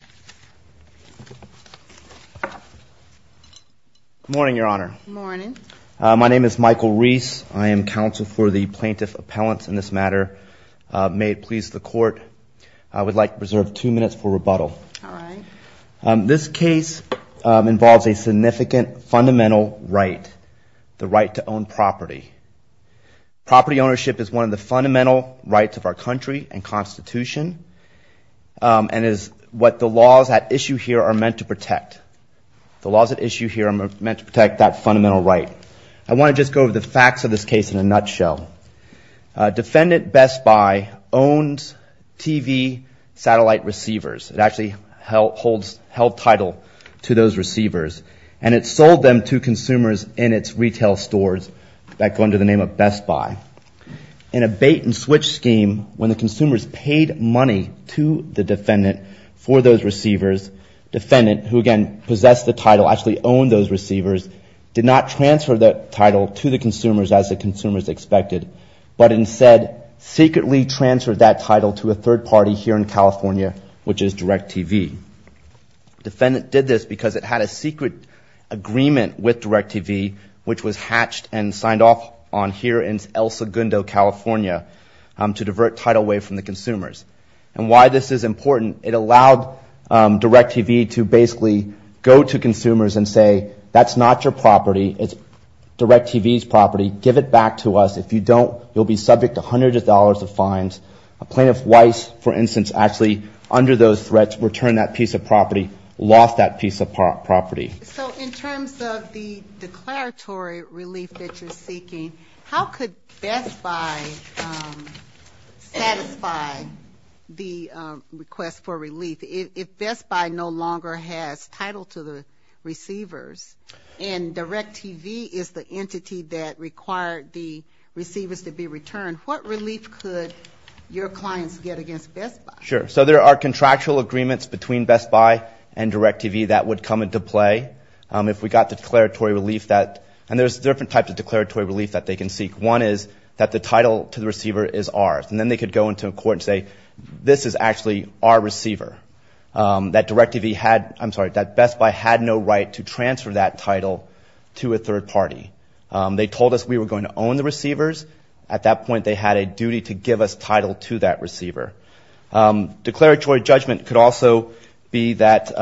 Good morning, Your Honor. Good morning. My name is Michael Reese. I am counsel for the Plaintiff Appellants in this matter. May it please the Court, I would like to reserve two minutes for rebuttal. All right. This case involves a significant fundamental right, the right to own property. Property ownership is one of the fundamental rights of our country and Constitution, and is what the laws at issue here are meant to protect. The laws at issue here are meant to protect that fundamental right. I want to just go over the facts of this case in a nutshell. Defendant Best Buy owns TV satellite receivers. It actually holds held title to those receivers, and it sold them to consumers in its retail stores that wait-and-switch scheme when the consumers paid money to the defendant for those receivers. Defendant, who again possessed the title, actually owned those receivers, did not transfer that title to the consumers as the consumers expected, but instead secretly transferred that title to a third party here in California, which is DirecTV. Defendant did this because it had a secret agreement with DirecTV, which was hatched and signed off on here in El to divert title away from the consumers. And why this is important, it allowed DirecTV to basically go to consumers and say, that's not your property, it's DirecTV's property, give it back to us. If you don't, you'll be subject to hundreds of dollars of fines. Plaintiff Weiss, for instance, actually under those threats returned that piece of property, lost that piece of property. So in terms of the declaratory relief that you're seeking, how could Best Buy satisfy the request for relief? If Best Buy no longer has title to the receivers, and DirecTV is the entity that required the receivers to be returned, what relief could your clients get against Best Buy? Sure. So there are contractual agreements between Best Buy and DirecTV that would come into play if we got the declaratory relief that, and there's different types of declaratory relief that they can seek. One is that the title to the receiver is ours. And then they could go into a court and say, this is actually our receiver. That Best Buy had no right to transfer that title to a third party. They told us we were going to own the receivers. At that point, they had a duty to give us title to that receiver. Declaratory judgment could also be that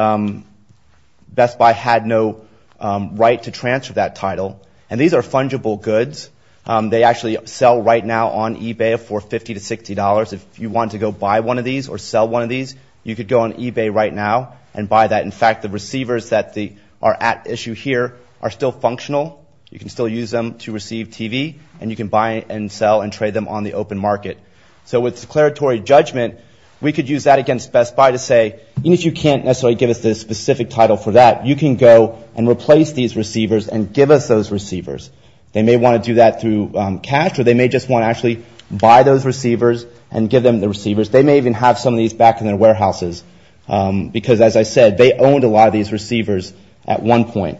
Best Buy had no right to transfer that title. And these are fungible goods. They actually sell right now on eBay for $50 to $60. If you want to go buy one of these or sell one of these, you could go on eBay right now and buy that. In fact, the receivers that are at issue here are still functional. You can still use them to receive TV, and you can buy and sell and trade them on the open market. So with declaratory judgment, we could use that against Best Buy to say, even if you can't necessarily give us the specific title for that, you can go and replace these receivers and give us those receivers. They may want to do that through cash, or they may just want to actually buy those receivers and give them the receivers. They may even have some of these back in their warehouses. Because as I said, they owned a lot of these receivers at one point.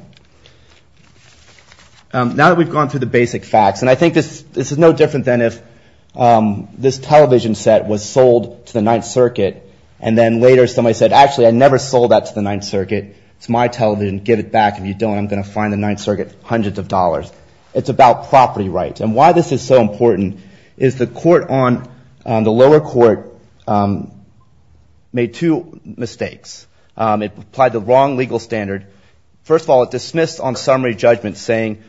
Now that we've gone through the basic facts, and I think this is no different than if this television set was sold to the Ninth Circuit, and then later somebody said, actually, I never sold that to the Ninth Circuit. It's my television. Give it back. If you don't, I'm going to fine the Ninth Circuit hundreds of dollars. It's about property rights. And why this is so important is the lower court made two mistakes. It applied the wrong legal standard. First of all, it dismissed on summary judgment saying,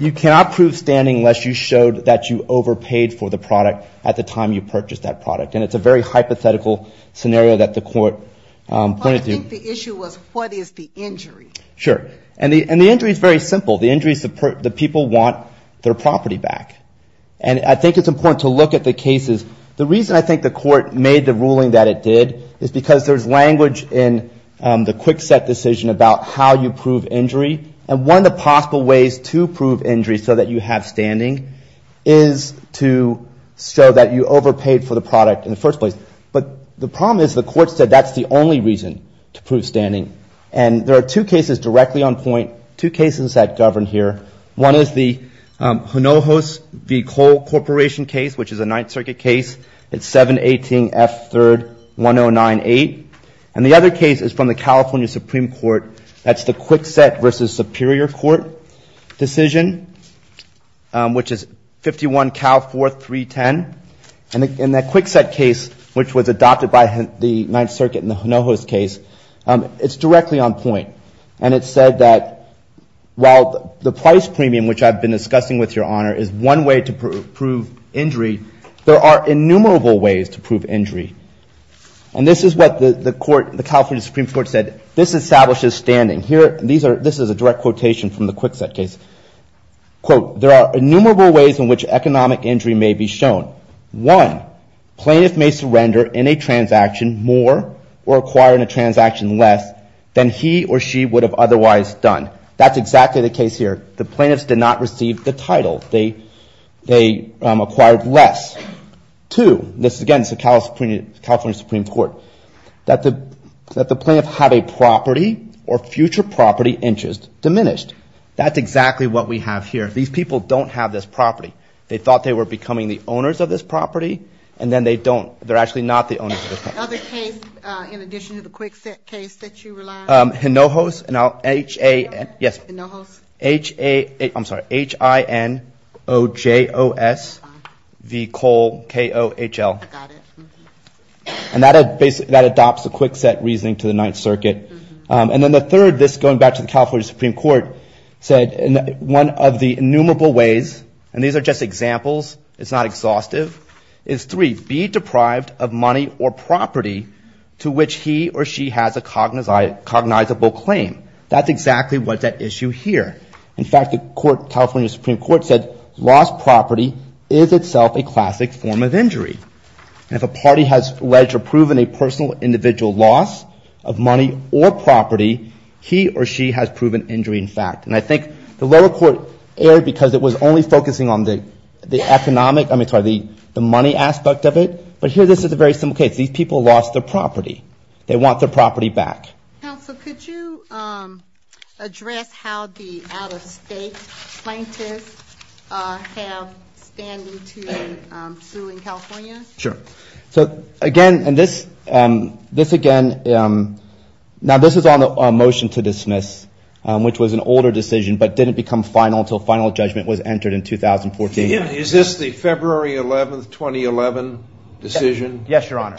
you cannot prove standing unless you showed that you overpaid for the product at the time you purchased that product. And it's a very hypothetical scenario that the court pointed to. But I think the issue was, what is the injury? Sure. And the injury is very simple. The injury is that people want their property back. And I think it's important to look at the cases. The reason I think the court made the ruling that it did is because there's language in the Kwikset decision about how you prove injury. And one of the possible ways to prove injury so that you have standing is to show that you overpaid for the product in the first place. But the problem is the court said that's the only reason to prove standing. And there are two cases directly on point, two cases that govern here. One is the Hinojos v. Cole Corporation case, which is a Ninth Circuit case. It's 718 F. 3rd 1098. And the other case is from the California Supreme Court. That's the Kwikset v. Superior Court decision, which is 51 Cal 4310. And in that Kwikset case, which was adopted by the Ninth Circuit in the Hinojos case, it's directly on point. And it said that while the price premium, which I've been discussing with Your Honor, is one way to prove injury, there are innumerable ways to prove injury. And this is what the court, the California Supreme Court said. This establishes standing. Here, this is a direct quotation from the Kwikset case. Quote, there are innumerable ways in which economic injury may be shown. One, plaintiff may surrender in a transaction more or acquire in a transaction less than he or she would have otherwise done. That's exactly the case here. The plaintiffs did not receive the title. They acquired less. Two, this again is the California Supreme Court, that the plaintiff had a property or future property interest diminished. That's exactly what we have here. These people don't have this property. They thought they were becoming the owners of this property, and then they don't. They're actually not the owners of this property. Is there another case in addition to the Kwikset case that you rely on? Hinojos. H-I-N-O-J-O-S-V-K-O-H-L. I got it. And that adopts the Kwikset reasoning to the Ninth Circuit. And then the third, this going back to the California Supreme Court, said one of the innumerable ways, and these are just examples, it's not exhaustive, is three, be deprived of money or property to which he or she has a cognizable claim. That's exactly what's at issue here. In fact, the California Supreme Court said lost property is itself a classic form of injury. And if a party has alleged or proven a personal individual loss of money or property, he or she has proven injury, in fact. And I think the lower court erred because it was only focusing on the economic, I'm sorry, the money aspect of it. But here this is a very simple case. These people lost their property. They want their property back. Counsel, could you address how the out-of-state plaintiffs have standing to sue in California? Sure. So again, and this again, now this is on a motion to dismiss, which was an older decision but didn't become final until final judgment was entered in 2014. Is this the February 11th, 2011 decision? Yes, Your Honor.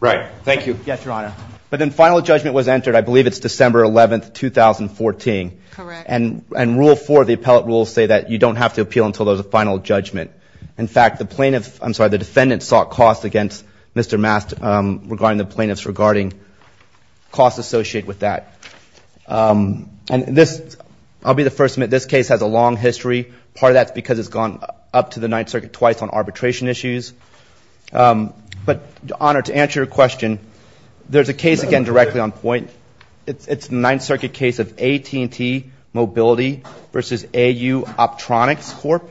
Right. Thank you. Yes, Your Honor. But then final judgment was entered, I believe it's December 11th, 2014. Correct. And rule four, the appellate rules say that you don't have to appeal until there's a final judgment. In fact, the plaintiff, I'm sorry, the defendant sought cost against Mr. Mast regarding the plaintiffs, regarding costs associated with that. And this, I'll be the first to admit, this case has a long history. Part of that's because it's gone up to the Ninth Circuit twice on arbitration issues. But, Your Honor, to answer your question, there's a case, again, directly on point. It's the Ninth Circuit case of AT&T Mobility versus AU Optronics Corp.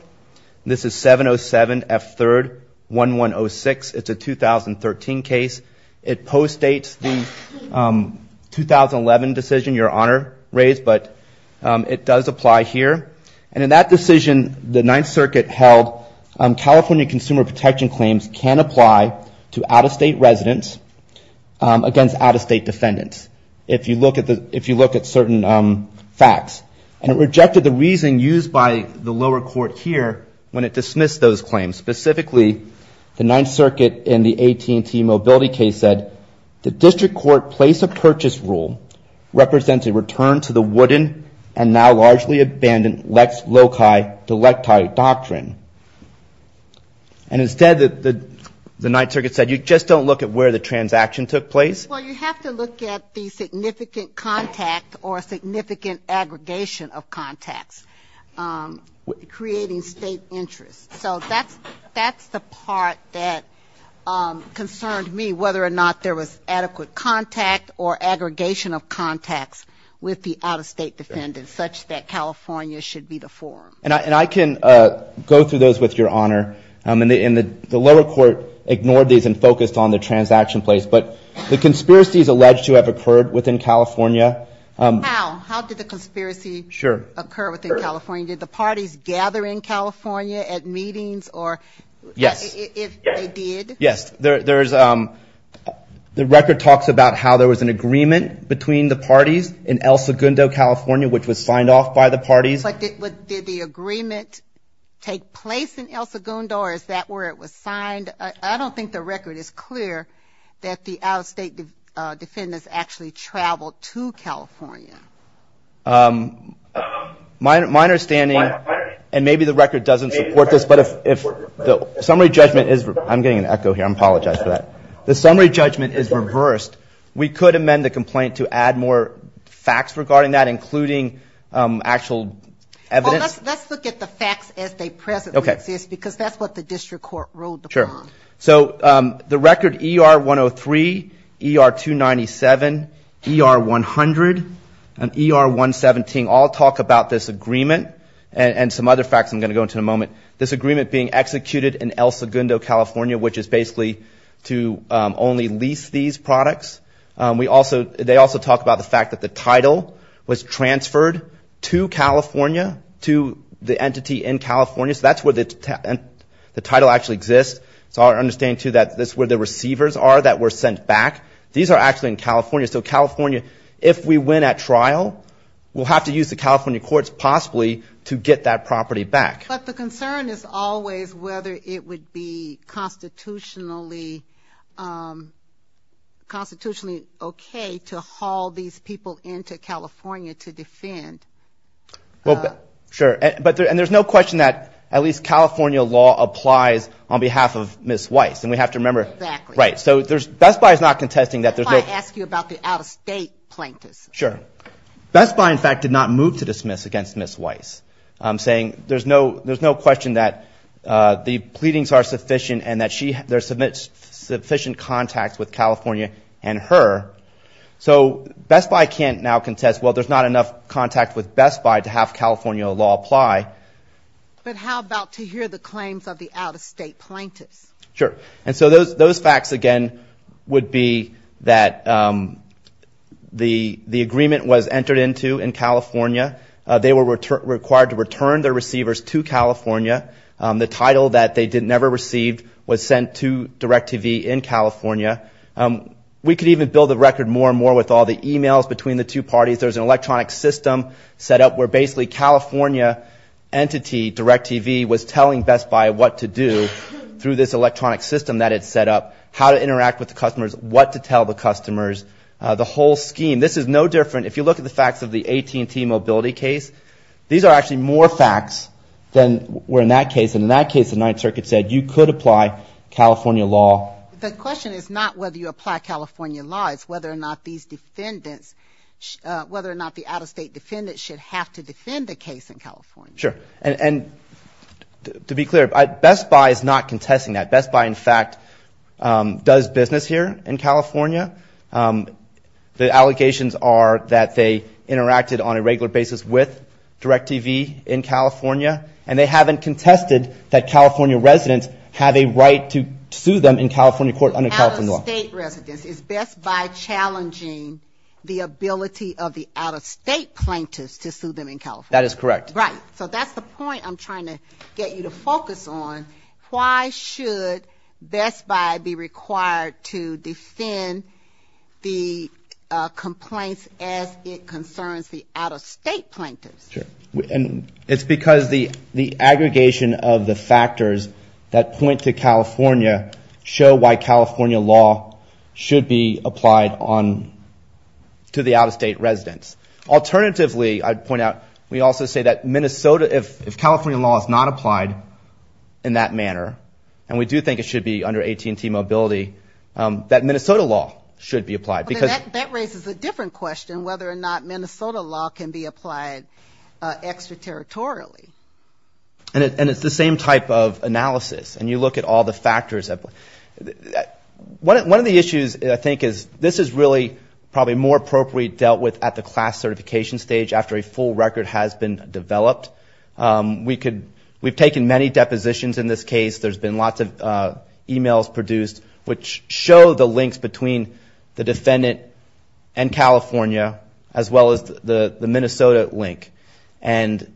This is 707F3-1106. It's a 2013 case. It postdates the 2011 decision, Your Honor raised, but it does apply here. And in that decision, the Ninth Circuit held California consumer protection claims can apply to out-of-state residents against out-of-state facts. And it rejected the reason used by the lower court here when it dismissed those claims. Specifically, the Ninth Circuit in the AT&T Mobility case said, the district court place of purchase rule represents a return to the wooden and now largely abandoned Lex Loci Delecti doctrine. And instead, the Ninth Circuit said, you just don't look at where the transaction took place. Well, you have to look at the significant contact or significant aggregation of contacts, creating State interest. So that's the part that concerned me, whether or not there was adequate contact or aggregation of contacts with the out-of-State defendant, such that California should be the forum. And I can go through those with Your Honor. And the lower court ignored these and focused on the transaction place. But the conspiracies alleged to have occurred within California. How? How did the conspiracy occur within California? Did the parties gather in California at meetings? Yes. They did? Yes. The record talks about how there was an agreement between the parties in El Segundo, California, which was signed off by the parties. But did the agreement take place in El Segundo, or is that where it was signed? I don't think the record is clear that the out-of-State defendants actually traveled to California. My understanding, and maybe the record doesn't support this, but if the summary judgment is, I'm getting an echo here, I apologize for that. The summary judgment is reversed. We could amend the complaint to add more facts regarding that, including actual evidence. Well, let's look at the facts as they presently exist, because that's what the district court ruled upon. So the record ER-103, ER-297, ER-100, and ER-117 all talk about this agreement and some other facts I'm going to go into in a moment. This agreement being executed in El Segundo, California, which is basically to only lease these products. They also talk about the fact that the title was transferred to California, to the entity in charge, understanding, too, that this is where the receivers are that were sent back. These are actually in California. So California, if we win at trial, we'll have to use the California courts, possibly, to get that property back. But the concern is always whether it would be constitutionally okay to haul these people into California to defend. Well, sure. And there's no question that at least California law applies on behalf of Ms. Weiss. Exactly. Right. So Best Buy is not contesting that there's no – Best Buy asked you about the out-of-state plaintiffs. Sure. Best Buy, in fact, did not move to dismiss against Ms. Weiss, saying there's no question that the pleadings are sufficient and that there's sufficient contact with California and her. So Best Buy can't now contest, well, there's not enough contact with Best Buy to have California law apply. But how about to hear the claims of the out-of-state plaintiffs? Sure. And so those facts, again, would be that the agreement was entered into in California. They were required to return their receivers to California. The title that they never received was sent to DirecTV in California. We could even build the record more and more with all the emails between the two parties. There's an electronic system set up where basically California entity, DirecTV, was telling Best Buy what to do through this electronic system that it set up, how to interact with the customers, what to tell the customers, the whole scheme. This is no different – if you look at the facts of the AT&T mobility case, these are actually more facts than were in that case. And in that case, the Ninth Circuit said you could apply California law. The question is not whether you apply California law. It's whether or not these defendants – whether or not the out-of-state defendants should have to defend the case in California. Sure. And to be clear, Best Buy is not contesting that. Best Buy, in fact, does business here in California. The allegations are that they interacted on a regular basis with DirecTV in California. And they haven't contested that California residents have a right to sue them in California court under California law. Out-of-state residents. Is Best Buy challenging the ability of the out-of-state plaintiffs to sue them in California? That is correct. Right. So that's the point I'm trying to get you to focus on. Why should Best Buy be required to defend the complaints as it concerns the out-of-state plaintiffs? Sure. And it's because the aggregation of the factors that point to whether or not California law should be applied on – to the out-of-state residents. Alternatively, I'd point out, we also say that Minnesota – if California law is not applied in that manner, and we do think it should be under AT&T mobility, that Minnesota law should be applied. But that raises a different question, whether or not Minnesota law can be applied extraterritorially. And it's the same type of analysis. And you look at all the factors. One of the issues, I think, is this is really probably more appropriate dealt with at the class certification stage after a full record has been developed. We could – we've taken many depositions in this case. There's been lots of emails produced which show the links between the defendant and California as well as the Minnesota link. And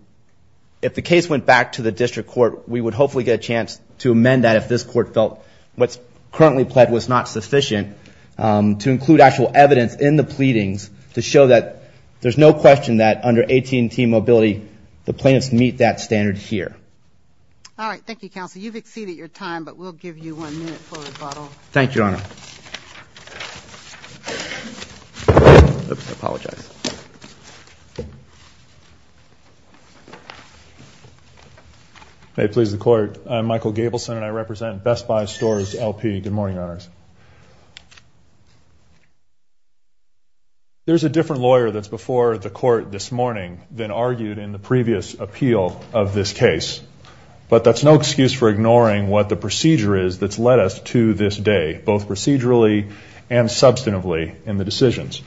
if the case went back to the district court, we would hopefully get a chance to amend that if this court felt what's currently pled was not sufficient, to include actual evidence in the pleadings to show that there's no question that under AT&T mobility, the plaintiffs meet that standard here. All right. Thank you, Counsel. You've exceeded your time, but we'll give you one minute for rebuttal. Thank you, Your Honor. I apologize. May it please the Court, I'm Michael Gabelson and I represent Best Buy Stores LP. Good morning, Your Honors. There's a different lawyer that's before the court this morning than argued in the previous appeal of this case. But that's no excuse for ignoring what the plaintiff said procedurally and substantively in the decisions.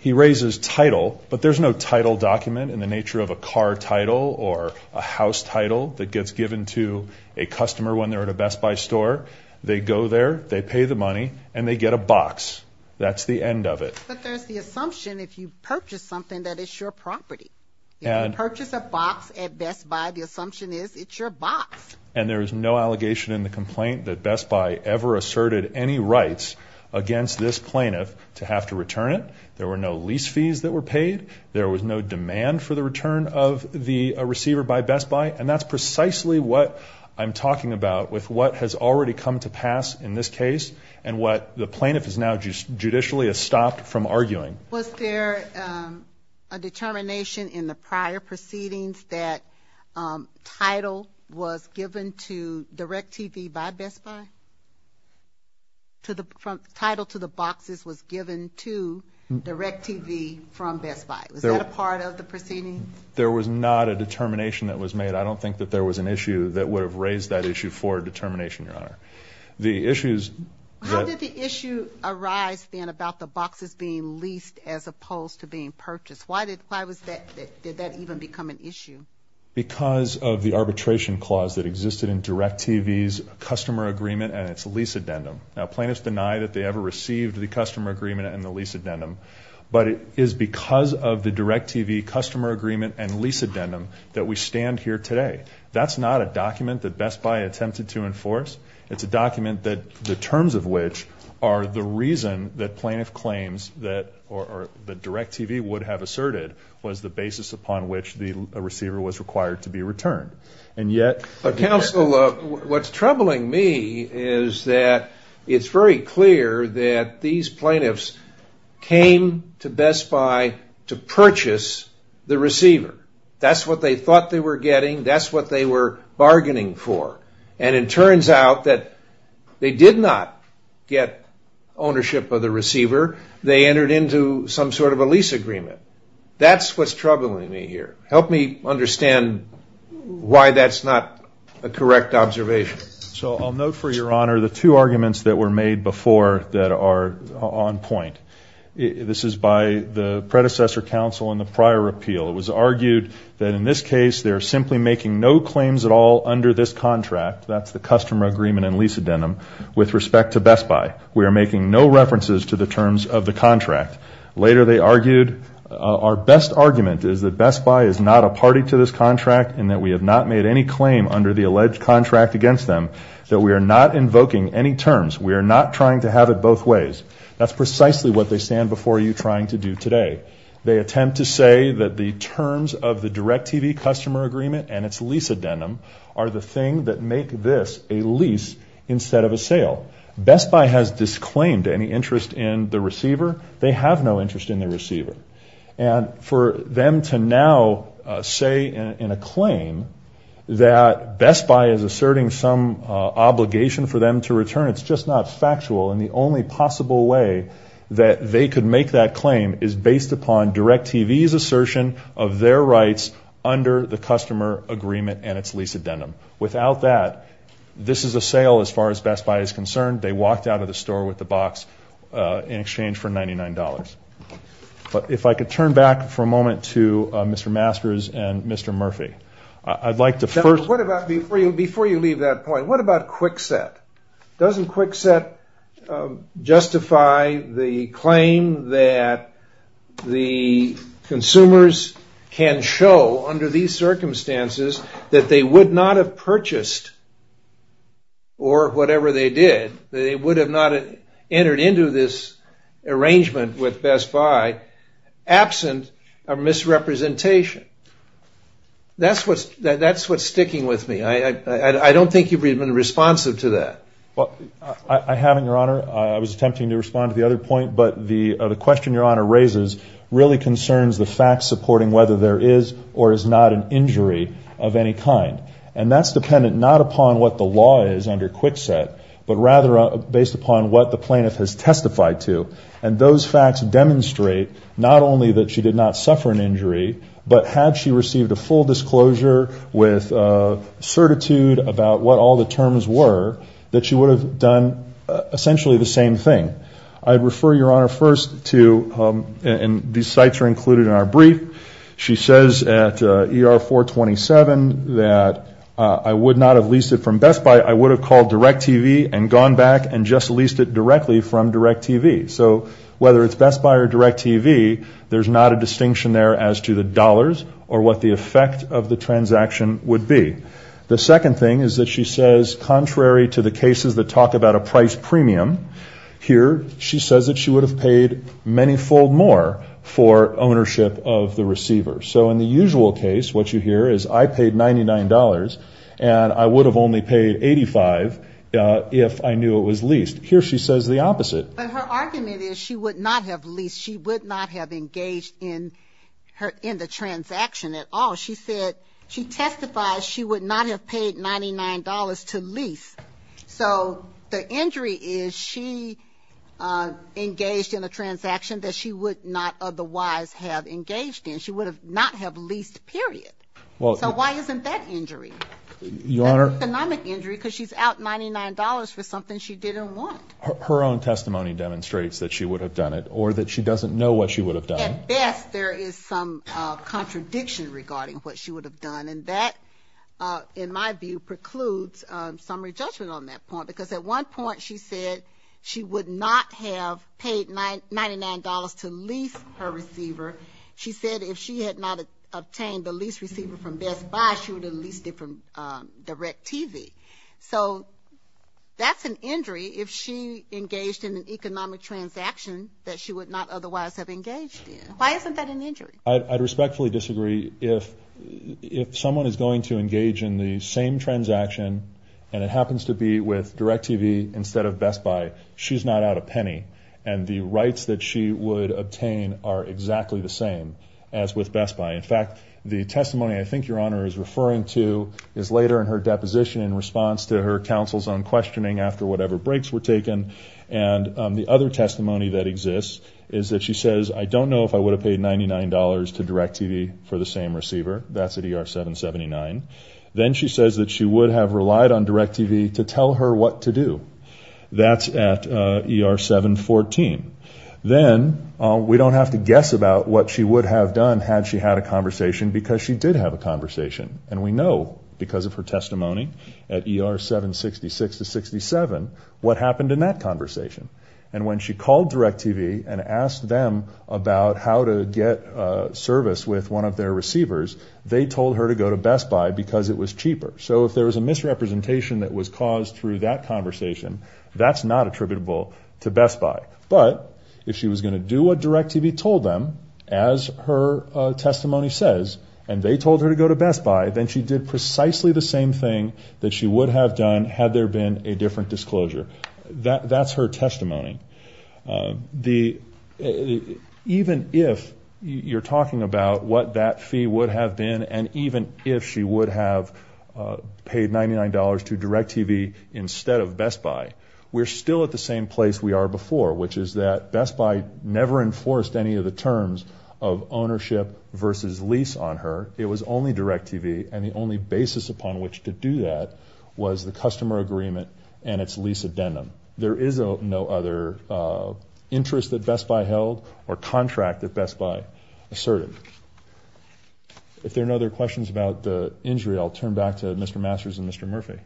He raises title, but there's no title document in the nature of a car title or a house title that gets given to a customer when they're at a Best Buy store. They go there, they pay the money, and they get a box. That's the end of it. But there's the assumption if you purchase something that it's your property. If you purchase a box at Best Buy, the assumption is it's your box. And there's no allegation in the complaint that Best Buy ever asserted any rights against this plaintiff to have to return it. There were no lease fees that were paid. There was no demand for the return of the receiver by Best Buy. And that's precisely what I'm talking about with what has already come to pass in this case and what the plaintiff has now judicially stopped from arguing. Was there a determination in the prior proceedings that title was given to DirecTV by Best Buy? Title to the boxes was given to DirecTV from Best Buy. Was that a part of the proceedings? There was not a determination that was made. I don't think that there was an issue that would have raised that issue for a determination, Your Honor. How did the issue arise then about the boxes being leased as opposed to being purchased? Why did that even become an issue? Well, that issue existed in DirecTV's customer agreement and its lease addendum. Now, plaintiffs deny that they ever received the customer agreement and the lease addendum. But it is because of the DirecTV customer agreement and lease addendum that we stand here today. That's not a document that Best Buy attempted to enforce. It's a document that the terms of which are the reason that plaintiff claims that or that DirecTV would have asserted was the customer agreement. What's troubling me is that it's very clear that these plaintiffs came to Best Buy to purchase the receiver. That's what they thought they were getting. That's what they were bargaining for. And it turns out that they did not get ownership of the receiver. They entered into some sort of a lease agreement. That's what's troubling me here. Help me understand why that's not a correct observation. So I'll note for your honor the two arguments that were made before that are on point. This is by the predecessor counsel in the prior appeal. It was argued that in this case they're simply making no claims at all under this contract, that's the customer agreement and lease addendum, with respect to Best Buy. We are making no references to the terms of the contract. Later they argued our best argument is that Best Buy is not a party to this contract and that we have not made any claim under the alleged contract against them, that we are not invoking any terms. We are not trying to have it both ways. That's precisely what they stand before you trying to do today. They attempt to say that the terms of the DirecTV customer agreement and its lease addendum are the thing that make this a lease instead of a sale. Best Buy has disclaimed any interest in the receiver. They have no interest in the receiver. And for them to now say in a claim that Best Buy is asserting some obligation for them to return, it's just not factual. And the only possible way that they could make that claim is based upon DirecTV's assertion of their rights under the customer agreement and its lease addendum. Without that, this is a sale as far as Best Buy is concerned. They walked out of the store with the box in their hands. If I could turn back for a moment to Mr. Masters and Mr. Murphy. I'd like to first... Before you leave that point, what about Kwikset? Doesn't Kwikset justify the claim that the consumers can show under these circumstances that they would not have purchased or whatever they did, they would have not entered into this arrangement with Best Buy absent a misrepresentation? That's what's sticking with me. I don't think you've been responsive to that. I haven't, Your Honor. I was attempting to respond to the other point, but the question Your Honor raises really concerns the fact supporting whether there is or is not an injury of any kind. And that's dependent not upon what the law is under and those facts demonstrate not only that she did not suffer an injury, but had she received a full disclosure with certitude about what all the terms were, that she would have done essentially the same thing. I'd refer Your Honor first to, and these sites are included in our brief, she says at ER-427 that I would not have leased it from Best Buy, I would have called DirecTV and gone back and just leased it whether it's Best Buy or DirecTV, there's not a distinction there as to the dollars or what the effect of the transaction would be. The second thing is that she says contrary to the cases that talk about a price premium, here she says that she would have paid many fold more for ownership of the receiver. So in the usual case, what you hear is I paid $99 and I would have only paid 85 if I knew it was leased. Here she says the opposite. But her argument is she would not have leased, she would not have engaged in the transaction at all. She said, she testifies she would not have paid $99 to lease. So the injury is she engaged in a transaction that she would not otherwise have engaged in. She would not have leased, period. So why isn't that injury? Economic injury, because she's out $99 for something she didn't want. Her own testimony demonstrates that she would have done it or that she doesn't know what she would have done. At best there is some contradiction regarding what she would have done. And that, in my view, precludes summary judgment on that point. Because at one point she said she would not have paid $99 to lease her receiver. She said if she had not obtained the lease receiver from Best Buy, she would have leased it from DirecTV. So that's an injury if she engaged in an economic transaction that she would not otherwise have engaged in. Why isn't that an injury? I respectfully disagree. If someone is going to engage in the same transaction and it happens to be with DirecTV instead of Best Buy, she's not out a penny. And the rights that she would obtain are exactly the same as with Best Buy. In fact, the testimony that I'm referring to is later in her deposition in response to her counsel's own questioning after whatever breaks were taken. And the other testimony that exists is that she says, I don't know if I would have paid $99 to DirecTV for the same receiver. That's at ER 779. Then she says that she would have relied on DirecTV to tell her what to do. That's at ER 714. Then we don't have to guess about what she would have done had she had a conversation because she did have a conversation. And we know because of her testimony at ER 766-67 what happened in that conversation. And when she called DirecTV and asked them about how to get service with one of their receivers, they told her to go to Best Buy because it was cheaper. So if there was a misrepresentation that was caused through that as her testimony says and they told her to go to Best Buy, then she did precisely the same thing that she would have done had there been a different disclosure. That's her testimony. Even if you're talking about what that fee would have been and even if she would have paid $99 to DirecTV instead of Best Buy, we're still at the same place we are before, which is that Best Buy never enforced any of the terms of ownership versus lease on her. It was only DirecTV and the only basis upon which to do that was the customer agreement and its lease addendum. There is no other interest that Best Buy held or contract that Best Buy asserted. If there are no other questions about the injury, I'll turn back to Mr. Masters and Mr. Murphy.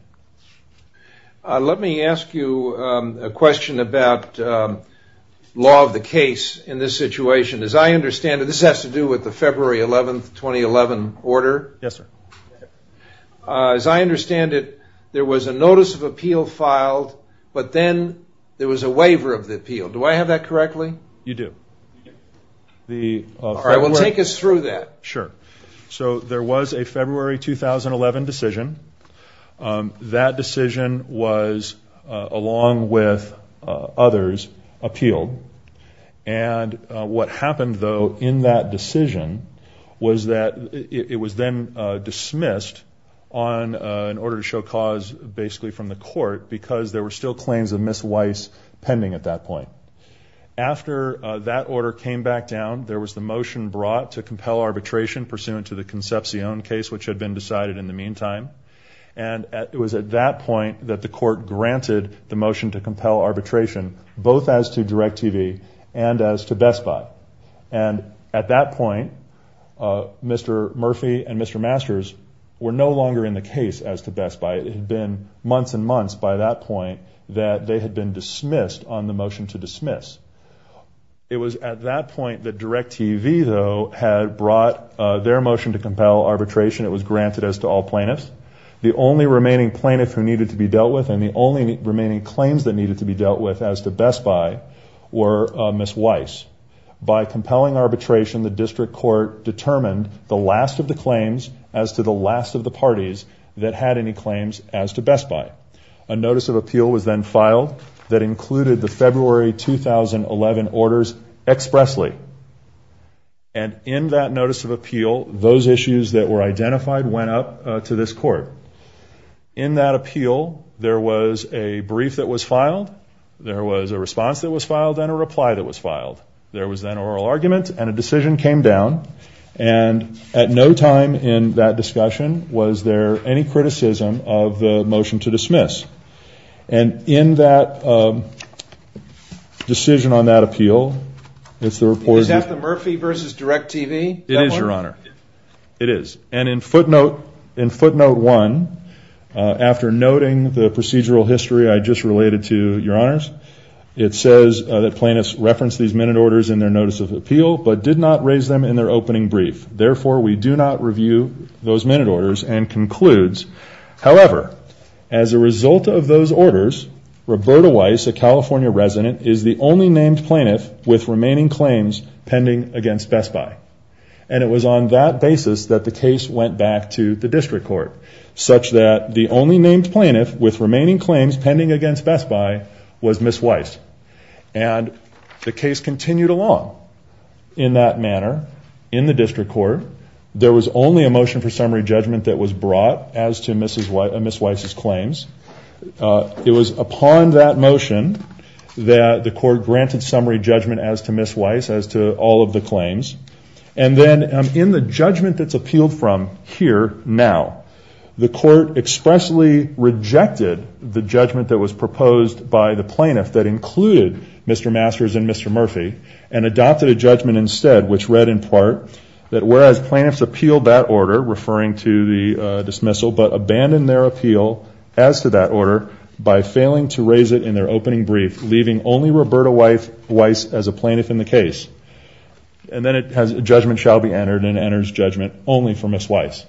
Let me ask you a question about law of the case in this situation. As I understand it, this has to do with the February 11, 2011 order. Yes, sir. As I understand it, there was a notice of appeal filed, but then there was a waiver of the appeal. Do I have that correctly? You do. All right, well, take us through that. Sure. There was a February 2011 decision. That decision was, along with others, appealed. What happened, though, in that decision was that it was then dismissed in order to show cause basically from the court because there were still claims of Ms. Weiss pending at that point. After that order came back down, there was the motion brought to compel arbitration pursuant to the Concepcion case, which had been decided in the meantime. It was at that point that the court granted the motion to compel arbitration, both as to DirecTV and as to Best Buy. At that point, Mr. Murphy and Mr. Masters were no longer in the case as to Best Buy. It had been months and months by that point that they had been dismissed on the case. It was at that point that DirecTV, though, had brought their motion to compel arbitration. It was granted as to all plaintiffs. The only remaining plaintiff who needed to be dealt with and the only remaining claims that needed to be dealt with as to Best Buy were Ms. Weiss. By compelling arbitration, the district court determined the last of the claims as to the last of the parties that had any claims as to Best Buy. A notice of appeal was then filed that included the February 2011 orders expressly. And in that notice of appeal, those issues that were identified went up to this court. In that appeal, there was a brief that was filed, there was a response that was filed, and a reply that was filed. There was then an oral argument and a decision came down. And at no time in that discussion was there any criticism of the motion to dismiss. And in that decision on that appeal, it's the report... Is that the Murphy v. DirecTV? It is, Your Honor. It is. And in footnote one, after noting the procedural history I just related to, Your Honors, it says that plaintiffs referenced these minute orders in their notice of appeal but did not raise them in their opening brief. Therefore, we do not review those minute orders and concludes, however, as a result of those orders, Roberta Weiss, a California resident, is the only named plaintiff with remaining claims pending against Best Buy. And it was on that basis that the case went back to the district court such that the only named plaintiff with remaining claims pending against Best Buy was Ms. Weiss. And the case continued along in that manner in the district court. There was only a motion for summary judgment that was brought as to Ms. Weiss' claims. It was upon that motion that the court granted summary judgment as to Ms. Weiss, as to all of the claims. And then in the judgment that's appealed from here now, the court expressly rejected the judgment that was proposed by the plaintiff that included Mr. Masters and Mr. Murphy and adopted a judgment instead which read in part that whereas plaintiffs appealed that order, referring to the dismissal, but they appealed as to that order by failing to raise it in their opening brief, leaving only Roberta Weiss as a plaintiff in the case. And then judgment shall be entered and enters judgment only for Ms. Weiss.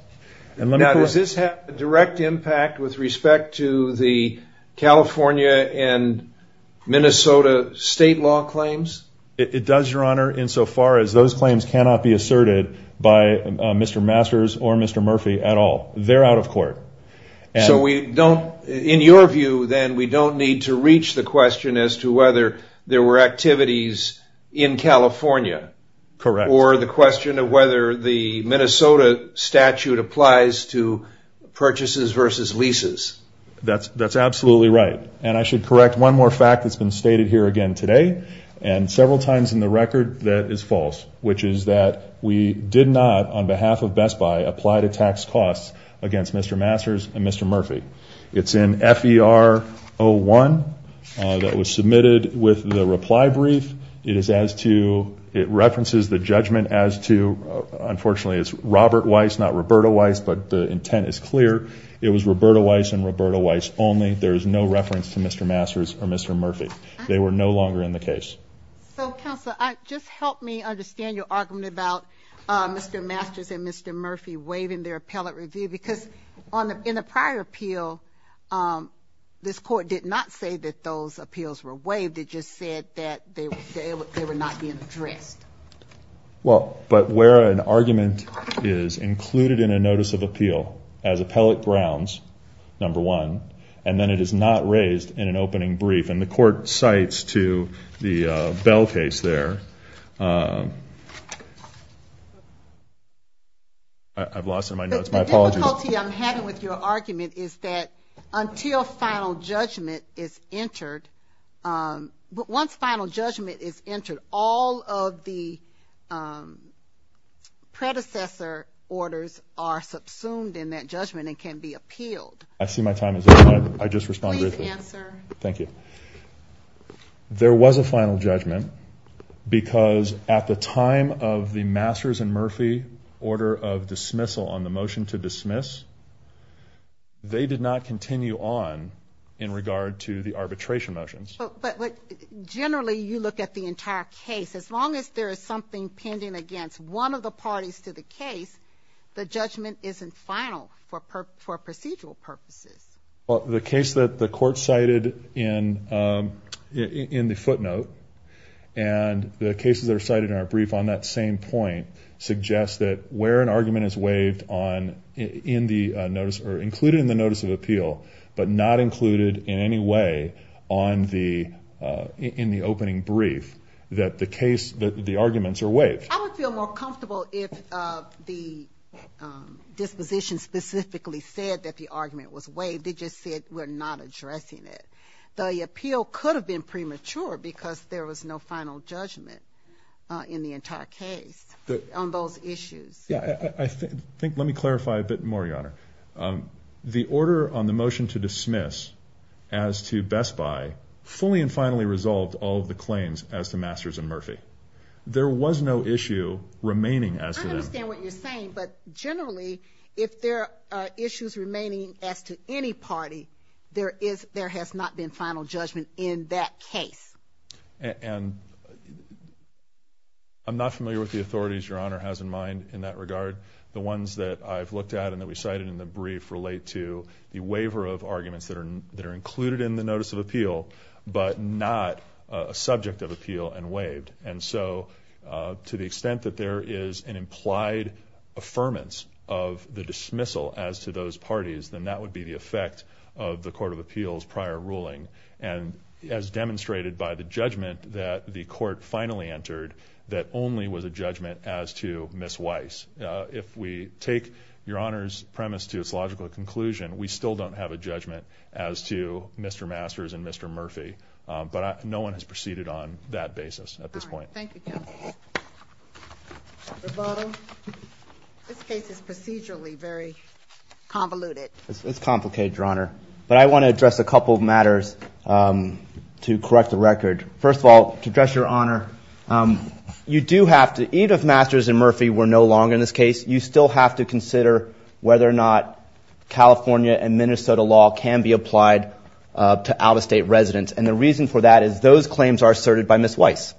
Now, does this have a direct impact with respect to the California and Minnesota state law claims? It does, Your Honor, insofar as those claims cannot be asserted by Mr. They're out of court. So we don't, in your view then, we don't need to reach the question as to whether there were activities in California or the question of whether the Minnesota statute applies to purchases versus leases. That's absolutely right. And I should correct one more fact that's been stated here again today and several times in the record that is false, which is that we did not, on Mr. Masters and Mr. Murphy. It's in FER01 that was submitted with the reply brief. It is as to, it references the judgment as to, unfortunately it's Robert Weiss, not Roberta Weiss, but the intent is clear. It was Roberta Weiss and Roberta Weiss only. There is no reference to Mr. Masters or Mr. Murphy. They were no longer in the case. So, counsel, just help me understand your argument about Mr. Masters and Mr. Review because in the prior appeal, this court did not say that those appeals were waived. It just said that they were not being addressed. Well, but where an argument is included in a notice of appeal as appellate grounds, number one, and then it is not raised in an opening brief and the court cites to the Bell case there. I've lost some of my notes. My apologies. The difficulty I'm having with your argument is that until final judgment is entered, once final judgment is entered, all of the predecessor orders are subsumed in that judgment and can be appealed. I see my time is up. I just responded briefly. Please answer. Thank you. There was a final judgment because at the time of the Masters and Murphy order of dismissal on the motion to dismiss, they did not continue on in regard to the arbitration motions. But generally, you look at the entire case. As long as there is something pending against one of the parties to the case, the judgment isn't final for procedural purposes. Well, the case that the court cited in the footnote and the cases that are cited in our brief on that same point suggest that where an argument is waived on in the notice or included in the notice of appeal but not included in any way in the opening brief, that the arguments are waived. I would feel more comfortable if the disposition specifically said that the case was waived. It just said we're not addressing it. The appeal could have been premature because there was no final judgment in the entire case on those issues. Let me clarify a bit more, Your Honor. The order on the motion to dismiss as to Best Buy fully and finally resolved all of the claims as to Masters and Murphy. There was no issue remaining as to them. I understand what you're saying. Generally, if there are issues remaining as to any party, there has not been final judgment in that case. I'm not familiar with the authorities Your Honor has in mind in that regard. The ones that I've looked at and that we cited in the brief relate to the waiver of arguments that are included in the notice of appeal but not a subject of appeal and waived. To the extent that there is an implied affirmance of the dismissal as to those parties, then that would be the effect of the Court of Appeals prior ruling. As demonstrated by the judgment that the court finally entered, that only was a judgment as to Ms. Weiss. If we take Your Honor's premise to its logical conclusion, we still don't have a judgment as to Mr. Masters and Mr. Murphy. No one has proceeded on that basis at this point. Thank you, Counsel. Mr. Bottle, this case is procedurally very convoluted. It's complicated, Your Honor. I want to address a couple of matters to correct the record. First of all, to address Your Honor, even if Masters and Murphy were no longer in this case, you still have to consider whether or not California and Minnesota law can be applied to out-of-state residents. And the reason for that is those claims are asserted by Ms. Weiss.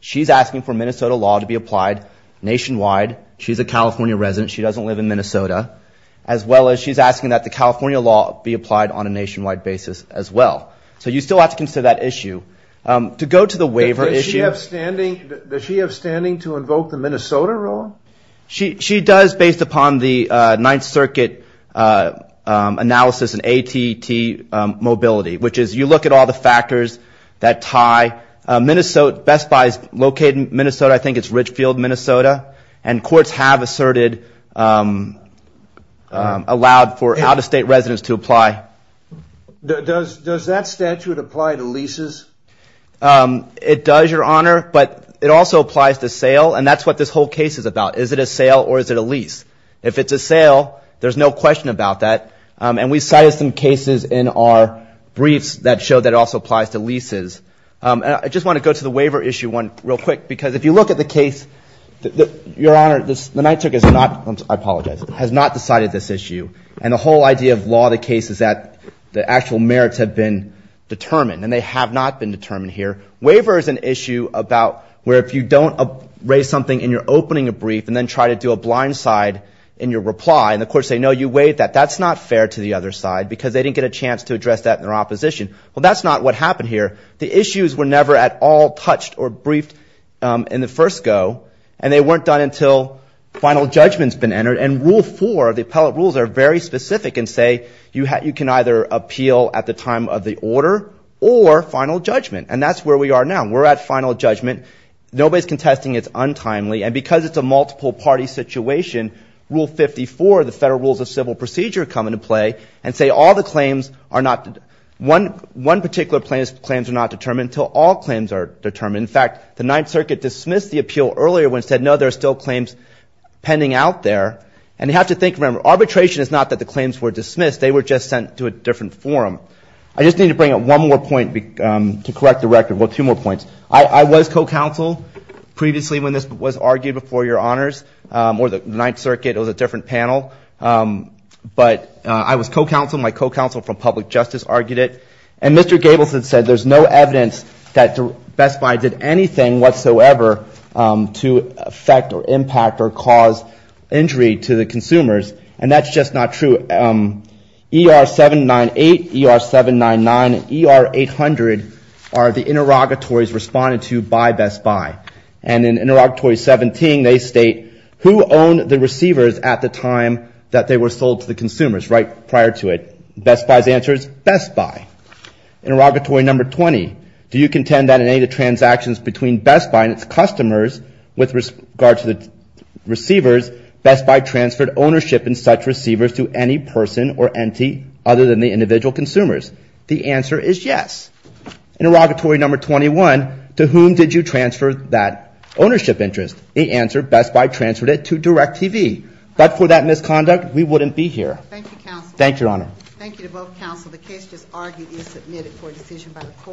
She's asking for Minnesota law to be applied nationwide. She's a California resident. She doesn't live in Minnesota. As well as she's asking that the California law be applied on a nationwide basis as well. So you still have to consider that issue. To go to the waiver issue. Does she have standing to invoke the Minnesota rule? She does, based upon the Ninth Circuit analysis and ATT mobility, which is if you look at all the factors that tie. Best Buy is located in Minnesota. I think it's Richfield, Minnesota. And courts have asserted, allowed for out-of-state residents to apply. Does that statute apply to leases? It does, Your Honor. But it also applies to sale. And that's what this whole case is about. Is it a sale or is it a lease? If it's a sale, there's no question about that. And we cited some cases in our briefs that show that it also applies to leases. And I just want to go to the waiver issue one real quick. Because if you look at the case, Your Honor, the Ninth Circuit has not, I apologize, has not decided this issue. And the whole idea of law of the case is that the actual merits have been determined. And they have not been determined here. Waiver is an issue about where if you don't raise something in your opening of brief and then try to do a blind side in your reply. And the courts say, no, you waived that. That's not fair to the other side because they didn't get a chance to address that in their opposition. Well, that's not what happened here. The issues were never at all touched or briefed in the first go. And they weren't done until final judgment's been entered. And Rule 4, the appellate rules, are very specific and say you can either appeal at the time of the order or final judgment. And that's where we are now. We're at final judgment. Nobody's contesting. It's untimely. And because it's a multiple party situation, Rule 54, the federal rules of civil procedure, come into play and say all the claims are not, one particular claim's not determined until all claims are determined. In fact, the Ninth Circuit dismissed the appeal earlier when it said, no, there are still claims pending out there. And you have to think, remember, arbitration is not that the claims were dismissed. They were just sent to a different forum. I just need to bring up one more point to correct the record. Well, two more points. I was co-counsel previously when this was argued before your honors or the Ninth Circuit. It was a different panel. But I was co-counsel. My co-counsel from public justice argued it. And Mr. Gabelson said there's no evidence that Best Buy did anything whatsoever to affect or impact or cause injury to the consumers. And that's just not true. ER-798, ER-799, and ER-800 are the interrogatories responded to by Best Buy. And in Interrogatory 17, they state, who owned the receivers at the time that they were sold to the consumers, right, prior to it? Best Buy's answer is Best Buy. Interrogatory number 20, do you contend that in any of the transactions between Best Buy and its customers with regard to the receivers, Best Buy transferred ownership in such receivers to any person or entity other than the individual consumers? The answer is yes. Interrogatory number 21, to whom did you transfer that ownership interest? The answer, Best Buy transferred it to DirecTV. But for that misconduct, we wouldn't be here. Thank you, counsel. Thank you, your honor. The case just argued is submitted for decision by the court.